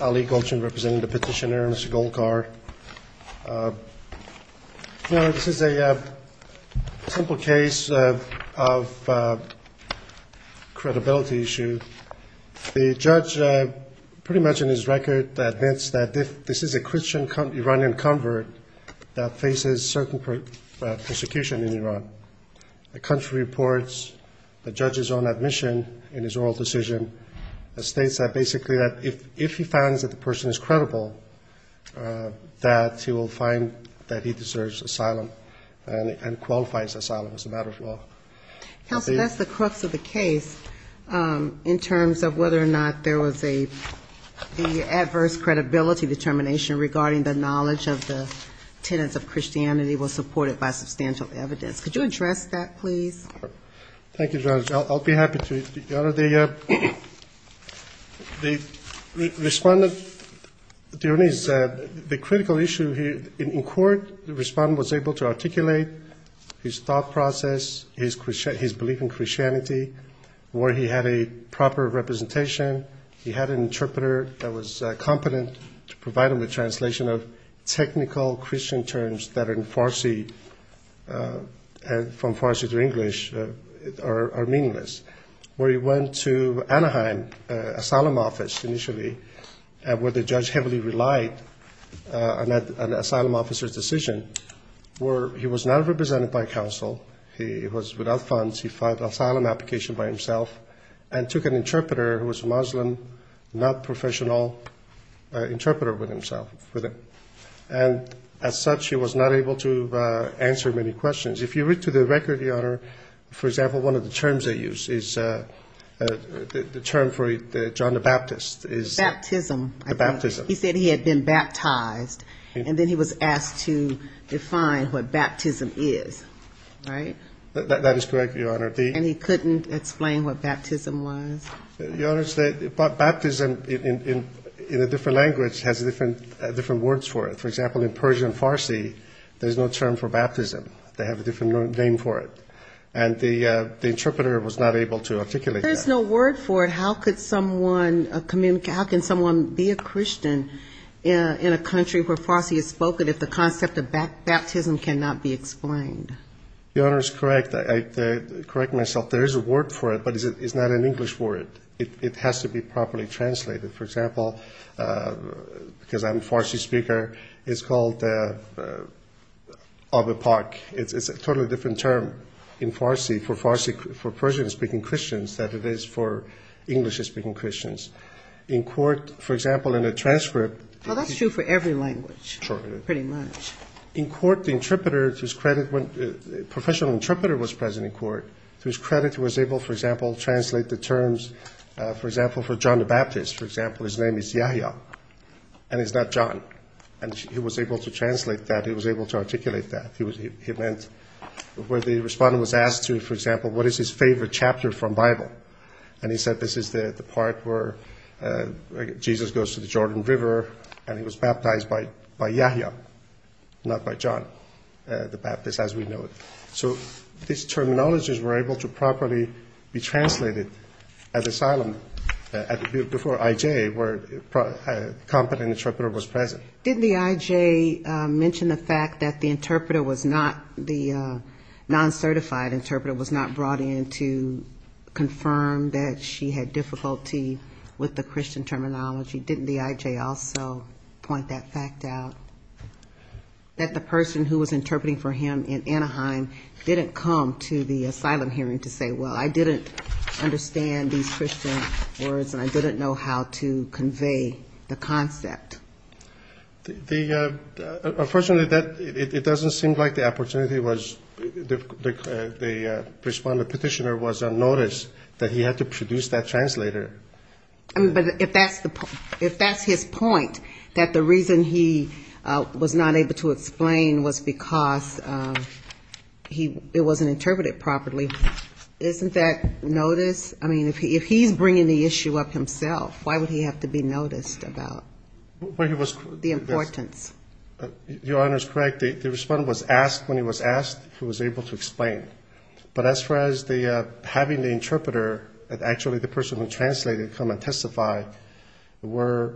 Ali Gulchin representing the petitioner, Mr. Golkar. This is a simple case of credibility issue. The judge pretty much in his record admits that this is a Christian Iranian convert that faces certain persecution in Iran. The country reports, the judge is on admission in his oral decision that states that basically that if he finds that the person is credible, that he will find that he deserves asylum and qualifies asylum as a matter of law. Counsel, that's the crux of the case in terms of whether or not there was an adverse credibility determination regarding the knowledge of the tenets of Christianity was supported by substantial evidence. Could you address that please? Thank you, Judge. I'll be happy to. The respondent, the critical issue here in court, the respondent was able to articulate his thought process, his belief in Christianity, where he had a proper representation. He had an interpreter that was competent to are meaningless, where he went to Anaheim Asylum Office initially, where the judge heavily relied on an asylum officer's decision, where he was not represented by counsel. He was without funds. He filed asylum application by himself and took an interpreter who was Muslim, not professional, interpreter with himself. And as such, he was not able to answer many questions. If you read through the record, Your Honor, for example, one of the terms they use is the term for John the Baptist is... Baptism. The baptism. He said he had been baptized, and then he was asked to define what baptism is, right? That is correct, Your Honor. And he couldn't explain what baptism was? Your Honor, baptism in a different language has different words for it. For example, in Persian Farsi, there's no term for baptism. They have a different name for it. And the interpreter was not able to articulate that. There's no word for it. How can someone be a Christian in a country where Farsi is spoken if the concept of baptism cannot be explained? Your Honor is correct. I correct myself. There is a word for it, but it's not an English word. It has to be properly translated. For example, because I'm a Farsi speaker, it's called... It's a totally different term in Farsi for Persian-speaking Christians than it is for English-speaking Christians. In court, for example, in a transcript... Well, that's true for every language, pretty much. In court, the professional interpreter was present in court. To his credit, he was able, for example, to translate the terms, for example, for John the Baptist. For example, his name is Yahya, and it's not John. And he was able to translate that. He was able to articulate that. He meant where the respondent was asked to, for example, what is his favorite chapter from Bible? And he said, this is the part where Jesus goes to the Jordan River, and he was baptized by Yahya, not by John the Baptist, as we know it. So these terminologies were able to properly be translated as asylum before I.J., where a competent interpreter was present. Did the I.J. mention the fact that the interpreter was not, the non-certified interpreter was not brought in to confirm that she had difficulty with the Christian terminology? Didn't the I.J. also point that fact out? That the person who was interpreting for him in Anaheim didn't come to the asylum hearing to say, well, I didn't understand these Christian words, and I didn't know how to convey the concept? Unfortunately, it doesn't seem like the opportunity was, the respondent petitioner was unnoticed that he had to produce that translator. I mean, but if that's his point, that the reason he was not able to explain was because it wasn't interpreted properly, isn't that notice? I mean, if he's bringing the issue up himself, why would he have to be noticed about the importance? Your Honor is correct. The respondent was asked when he was asked if he was able to explain. But as far as having the interpreter, actually the person who translated come and testify, were,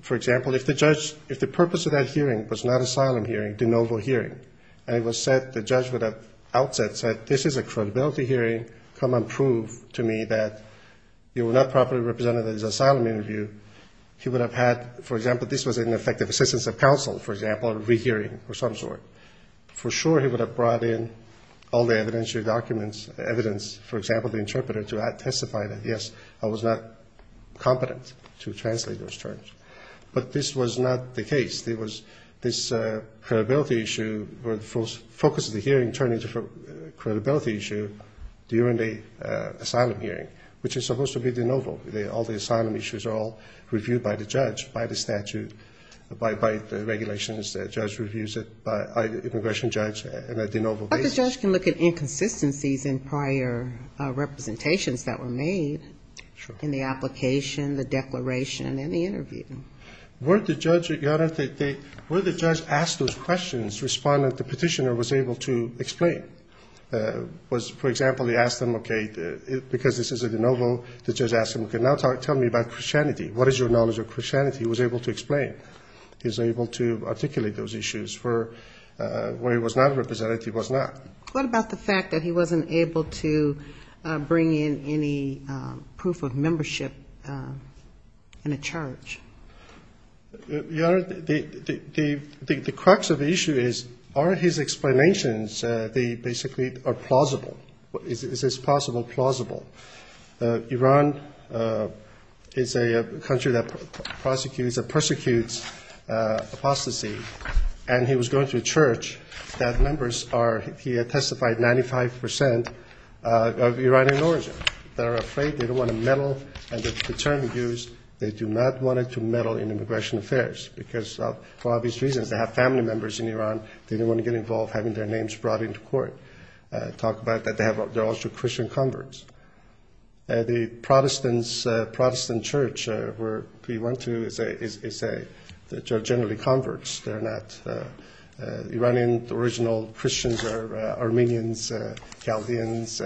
for example, if the purpose of that hearing was not asylum hearing, de novo hearing, and it was said, the judge would have outset said, this is a credibility hearing, come and prove to me that you were not properly represented at his asylum interview, he would have had, for example, this was an effective assistance of counsel, for example, a rehearing of some sort. For sure he would have brought in all the evidence, your documents, evidence, for example, the interpreter, to testify that, yes, I was not competent to translate those terms. But this was not the case. There was this credibility issue where the focus of the hearing turned into a credibility issue during the asylum hearing, which is supposed to be de novo. All the asylum issues are all reviewed by the judge, by the statute, by the regulations, the judge reviews it, by IAEA, and so forth. But the judge can look at inconsistencies in prior representations that were made in the application, the declaration, and the interview. Were the judge, your Honor, were the judge asked those questions, respondent, the petitioner was able to explain? Was, for example, he asked them, okay, because this is a de novo, the judge asked him, okay, now tell me about Christianity. What is your knowledge of Christianity? He was able to explain. He was able to articulate those issues. Where he was not represented, he was not. What about the fact that he wasn't able to bring in any proof of membership in a charge? Your Honor, the crux of the issue is, are his explanations, they basically are plausible. Is this possible? Plausible. Iran is a country that prosecutes, that persecutes apostasy. And he was going to a church that members are, he had testified 95% of Iranian origin. They're afraid, they don't want to meddle, and the term used, they do not want to meddle in immigration affairs. Because for obvious reasons, they have family members in Iran, they don't want to get involved having their names brought into court. Talk about that, they're also Christian converts. The Protestant church where he went to is generally converts. Iranian original Christians are Armenians, Chaldeans,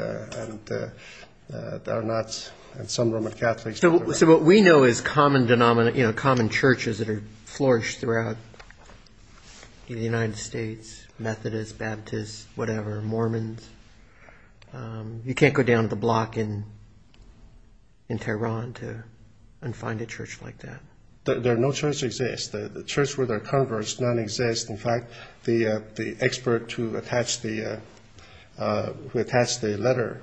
and some Roman Catholics. So what we know is common denominations, common churches that have flourished throughout the United States, Methodists, Baptists, whatever, Mormons. You can't go down to the block in Tehran and find a church like that. There are no churches that exist. The church where they're converts none exist. In fact, the expert who attached the letter,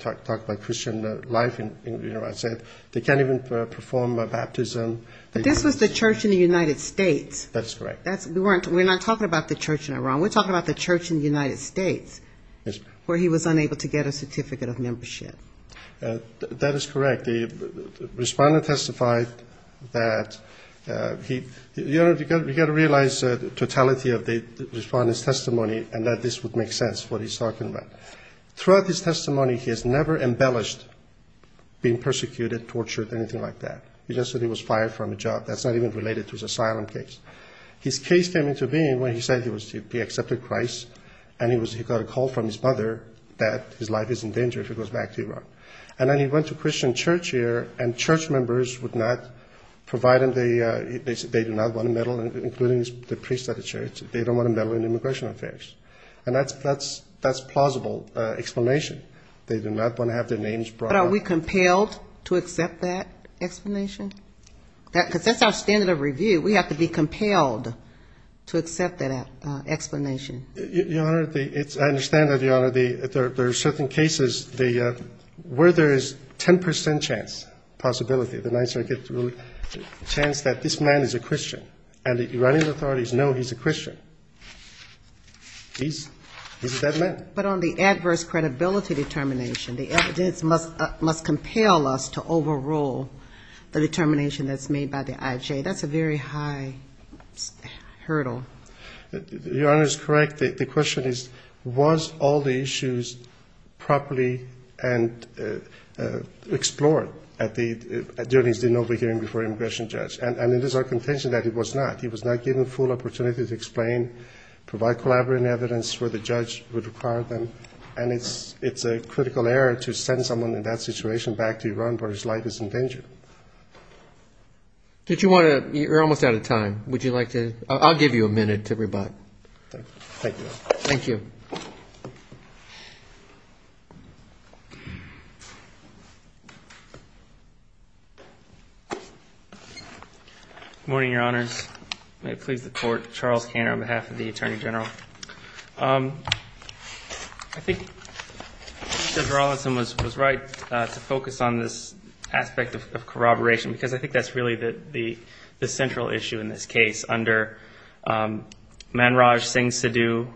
talked about Christian life in Iran, said they can't even perform a baptism. But this was the church in the United States. That's correct. We're not talking about the church in Iran, we're talking about the church in the United States where he was unable to get a certificate of membership. That is correct. The respondent testified that he got to realize the totality of the respondent's testimony and that this would make sense, what he's talking about. Throughout his testimony he has never embellished being persecuted, tortured, anything like that. He just said he was fired from a job, that's not even related to his asylum case. His case came into being when he said he accepted Christ and he got a call from his mother that his life is in danger if he goes back to Iran. And then he went to Christian church here and church members would not provide him, they do not want a medal, including the priests at the church, they don't want a medal in immigration affairs. And that's plausible explanation, they do not want to have their names brought up. But are we compelled to accept that explanation? Because that's our standard of review, we have to be compelled to accept that explanation. There are certain cases where there is 10 percent chance, possibility, the chance that this man is a Christian. And the Iranian authorities know he's a Christian. He's that man. But on the adverse credibility determination, the evidence must compel us to overrule the determination that's made by the IJ. That's a very high hurdle. Your Honor is correct. The question is, was all the issues properly explored at the hearings before the immigration judge? And it is our contention that it was not. He was not given a full opportunity to explain, provide collaborative evidence where the judge would require them. And it's a critical error to send someone in that situation back to Iran where his life is in danger. Did you want to, you're almost out of time. Would you like to, I'll give you a minute to rebut. Thank you. Good morning, Your Honors. May it please the Court. Charles Cantor on behalf of the Attorney General. I think Judge Rawlinson was right to focus on this aspect of corroboration, because I think that's really the central issue in this case. Under Manraj Singh Sidhu,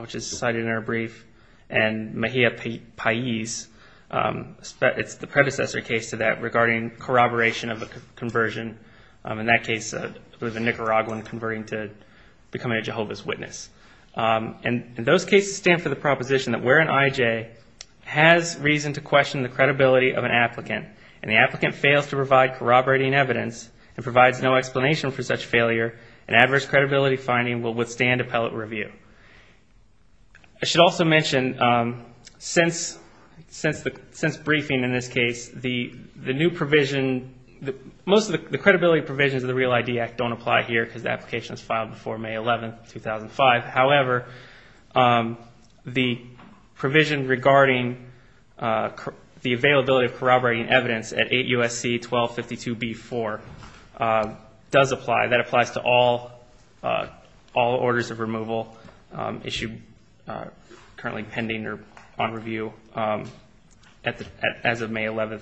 which is cited in our brief, and Mahia Pais, it's the predecessor case to that regarding corroboration of a conversion. In that case, a Nicaraguan converting to becoming a Jehovah's Witness. And those cases stand for the proposition that where an IJ has reason to question the credibility of an applicant, and the applicant fails to provide corroborating evidence and provides no explanation for such failure, an adverse credibility finding will withstand appellate review. I should also mention, since briefing in this case, the new provision, most of the credibility provisions of the Real ID Act don't apply here, because the application was filed before May 11, 2005. However, the provision regarding the availability of corroborating evidence at 8 U.S.C. 1252b-4 does apply. That applies to all orders of removal currently pending or on review as of May 11.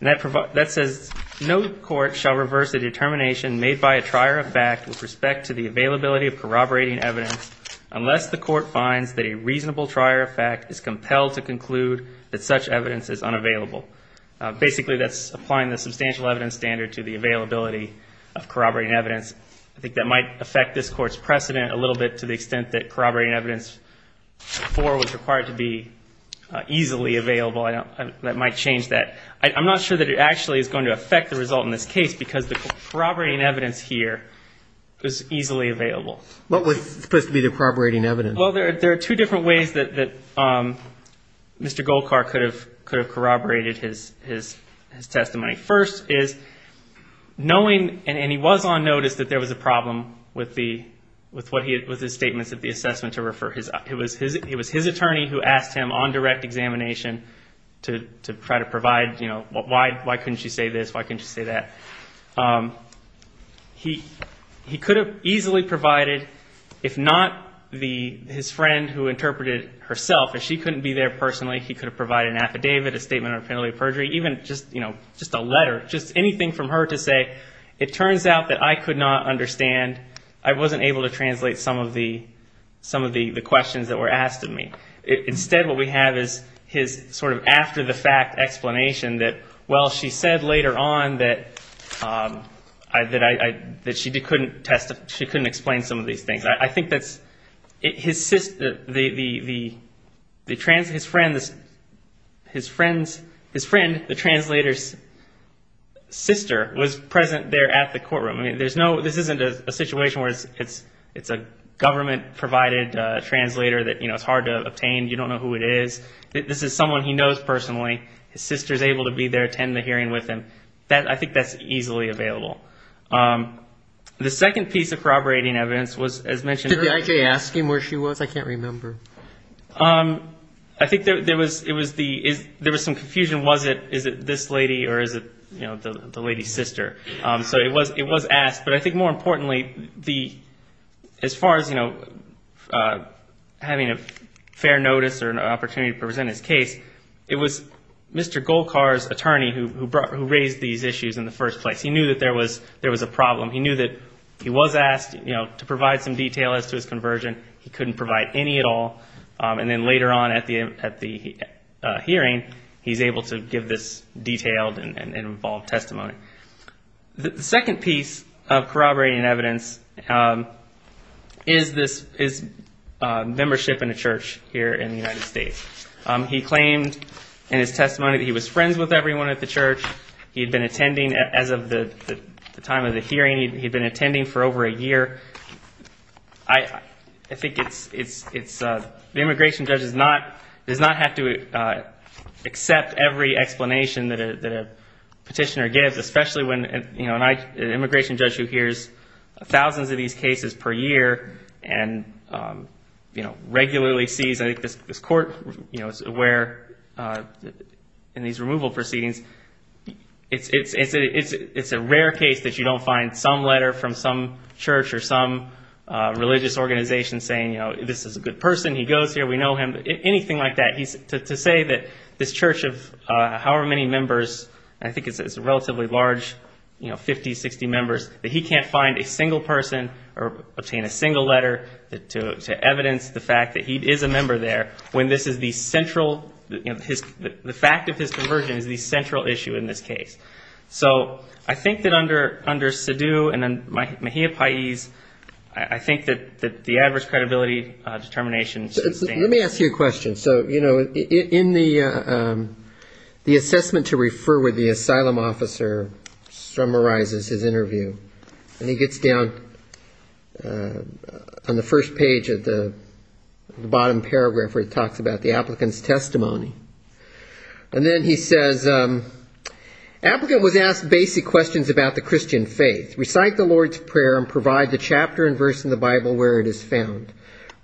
And that says, no court shall reverse a determination made by a trier of fact with respect to the availability of corroborating evidence unless the court finds that a reasonable trier of fact is compelled to conclude that such evidence is unavailable. Basically, that's applying the substantial evidence standard to the availability of corroborating evidence. I think that might affect this Court's precedent a little bit to the extent that corroborating evidence before was required to be I'm not sure that it actually is going to affect the result in this case, because the corroborating evidence here is easily available. What was supposed to be the corroborating evidence? Well, there are two different ways that Mr. Golkar could have corroborated his testimony. First is, knowing, and he was on notice that there was a problem with his statements of the assessment to refer. It was his attorney who asked him on direct examination to try to provide, you know, why couldn't she say this, why couldn't she say that. He could have easily provided, if not his friend who interpreted it herself, and she couldn't be there personally, he could have provided an affidavit, a statement of penalty of perjury, even just a letter, just anything from her to say, it turns out that I could not understand, I wasn't able to translate some of the questions. Instead, what we have is his sort of after-the-fact explanation that, well, she said later on that she couldn't explain some of these things. I think that his friend, the translator's sister, was present there at the courtroom. I mean, this isn't a situation where it's a government-provided translator, it's a government-provided attorney. It's a translator that, you know, it's hard to obtain, you don't know who it is. This is someone he knows personally, his sister's able to be there, attend the hearing with him. I think that's easily available. The second piece of corroborating evidence was, as mentioned earlier... Did the IJ ask him where she was? I can't remember. I think there was some confusion, was it this lady or is it the lady's sister? So it was asked, but I think more importantly, as far as, you know, having a fair notice or an opportunity to present his case, it was Mr. Golkar's attorney who raised these issues in the first place. He knew that there was a problem. He knew that he was asked, you know, to provide some detail as to his conversion. He couldn't provide any at all. And then later on at the hearing, he's able to give this detailed and involved testimony. The second piece of corroborating evidence is this, is membership in a church here in the United States. He claimed in his testimony that he was friends with everyone at the church. He had been attending, as of the time of the hearing, he had been attending for over a year. I think it's... The immigration judge does not have to accept every explanation that a petitioner gives, especially when, you know, an immigration judge who hears thousands of these cases per year and, you know, regularly sees... I think this court, you know, is aware in these removal proceedings. It's a rare case that you don't find some letter from some church or some religious organization saying, you know, this is a good person, he goes here, we know him, anything like that. To say that this church of however many members, I think it's a relatively large, you know, 50, 60 members, that he can't find a single person or obtain a single letter to evidence the fact that he is a member there when this is the central... The fact of his conversion is the central issue in this case. So I think that under Sidhu and then Mahia Pais, I think that the adverse credibility determination... And then he summarizes his interview and he gets down on the first page of the bottom paragraph where it talks about the applicant's testimony. And then he says, Applicant was asked basic questions about the Christian faith. Recite the Lord's Prayer and provide the chapter and verse in the Bible where it is found.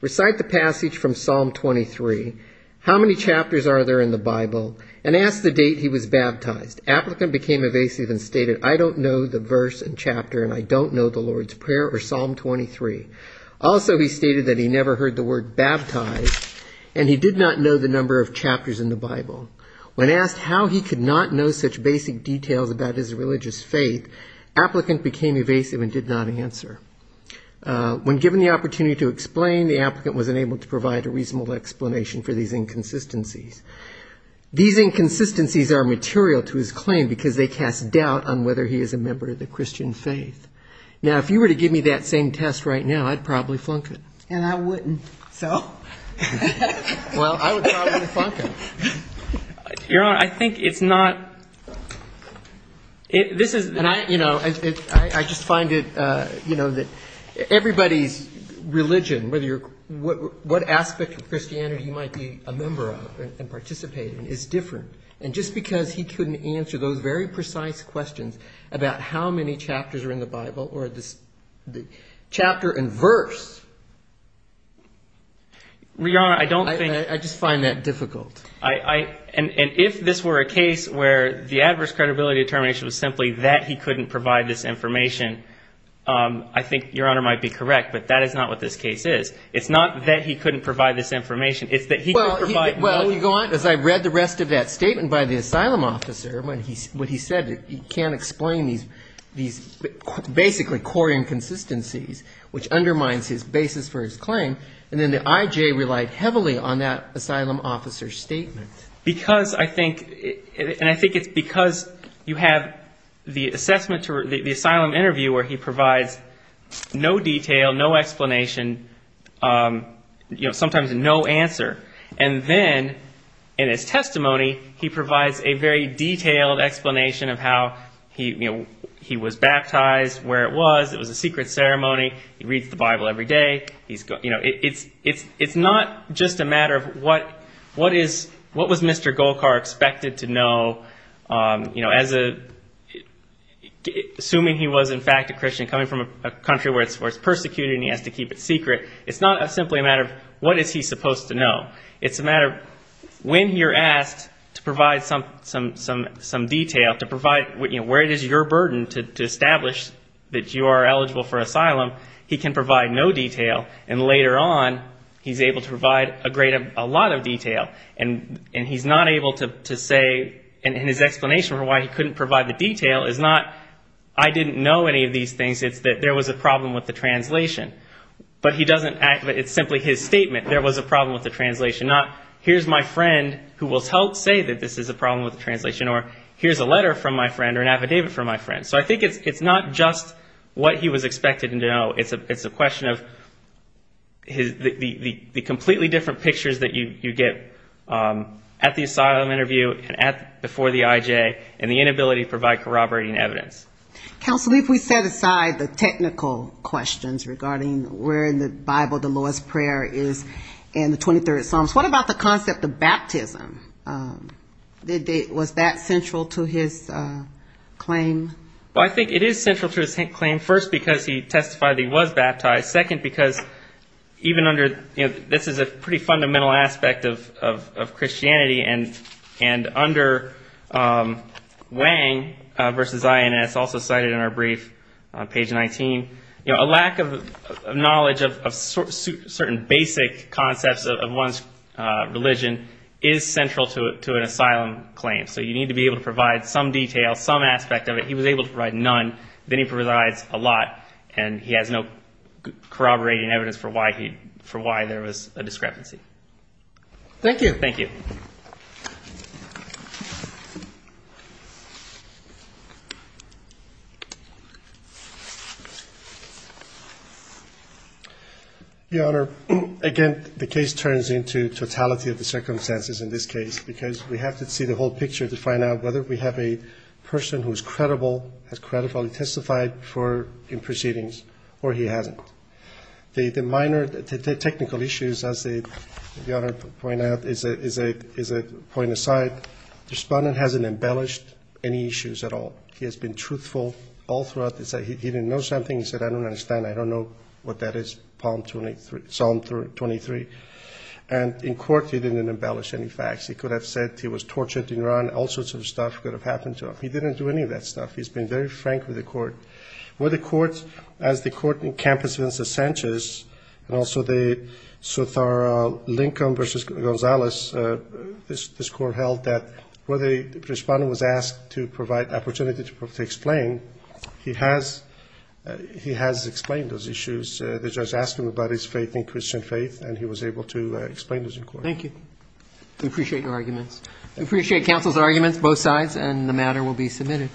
Recite the passage from Psalm 23. How many chapters are there in the Bible? And ask the date he was baptized. Applicant became evasive and stated, I don't know the verse and chapter and I don't know the Lord's Prayer or Psalm 23. Also he stated that he never heard the word baptized and he did not know the number of chapters in the Bible. When asked how he could not know such basic details about his religious faith, applicant became evasive and did not answer. When given the opportunity to explain, the applicant was unable to provide a reasonable explanation for these inconsistencies. These inconsistencies are material to his claim because they cast doubt on whether he is a member of the Christian faith. Now if you were to give me that same test right now, I'd probably flunk it. And I wouldn't, so... Well, I would probably flunk it. I just find that everybody's religion, what aspect of Christianity he might be a member of and participate in is different. And just because he couldn't answer those very precise questions about how many chapters are in the Bible or the chapter and verse... I just find that difficult. And if this were a case where the adverse credibility determination was simply that he couldn't provide this information, I think Your Honor might be correct. But that is not what this case is. It's not that he couldn't provide this information. It's that he couldn't provide... It's that he couldn't provide heavily on that asylum officer's statement. And I think it's because you have the asylum interview where he provides no detail, no explanation, sometimes no answer. And then in his testimony, he provides a very detailed explanation of how he was baptized, where it was, it was a secret ceremony, he reads the Bible every day. It's not just a matter of what was Mr. Golkar expected to know. Assuming he was in fact a Christian coming from a country where it's persecuted and he has to keep it secret. It's not simply a matter of what is he supposed to know. It's a matter of when you're asked to provide some detail, to provide where it is your burden to establish that you are eligible for asylum, he can provide no detail. And later on, he's able to provide a lot of detail. And he's not able to say, and his explanation for why he couldn't provide the detail is not, I didn't know any of these things. It's that there was a problem with the translation. But it's simply his statement, there was a problem with the translation. Not, here's my friend who will say that this is a problem with the translation, or here's a letter from my friend or an affidavit from my friend. So I think it's not just what he was expected to know. It's a question of the completely different pictures that you get at the asylum interview and before the IJ, and the inability to provide corroborating evidence. Counsel, if we set aside the technical questions regarding where in the Bible the lowest prayer is in the 23rd Psalms, what about the concept of baptism? Was that central to his claim? Well, I think it is central to his claim, first, because he testified that he was baptized. Second, because even under, you know, this is a pretty fundamental aspect of Christianity. And under Wang versus INS, also cited in our brief, page 19, you know, a lack of knowledge of certain basic concepts of one's religion is central to his claim. So you need to be able to provide some detail, some aspect of it. He was able to provide none. Then he provides a lot, and he has no corroborating evidence for why there was a discrepancy. Thank you. Your Honor, again, the case turns into totality of the circumstances in this case, because we have to see the whole picture to find out whether we have a person who is credible, has credibly testified in proceedings, or he hasn't. The minor technical issues, as the Honor pointed out, is a point aside. The respondent hasn't embellished any issues at all. He has been truthful all throughout. He said he didn't know something. He said, I don't understand. I don't know what that is, Psalm 23. And in court he didn't embellish any facts. He could have said he was tortured in Iran, all sorts of stuff could have happened to him. He didn't do any of that stuff. He's been very frank with the court. The evidence that Sanchez, and also the Sotaro-Lincoln v. Gonzalez, this Court held that where the respondent was asked to provide opportunity to explain, he has explained those issues. The judge asked him about his faith in Christian faith, and he was able to explain those in court. Thank you. We appreciate your arguments. We appreciate counsel's arguments, both sides, and the matter will be submitted.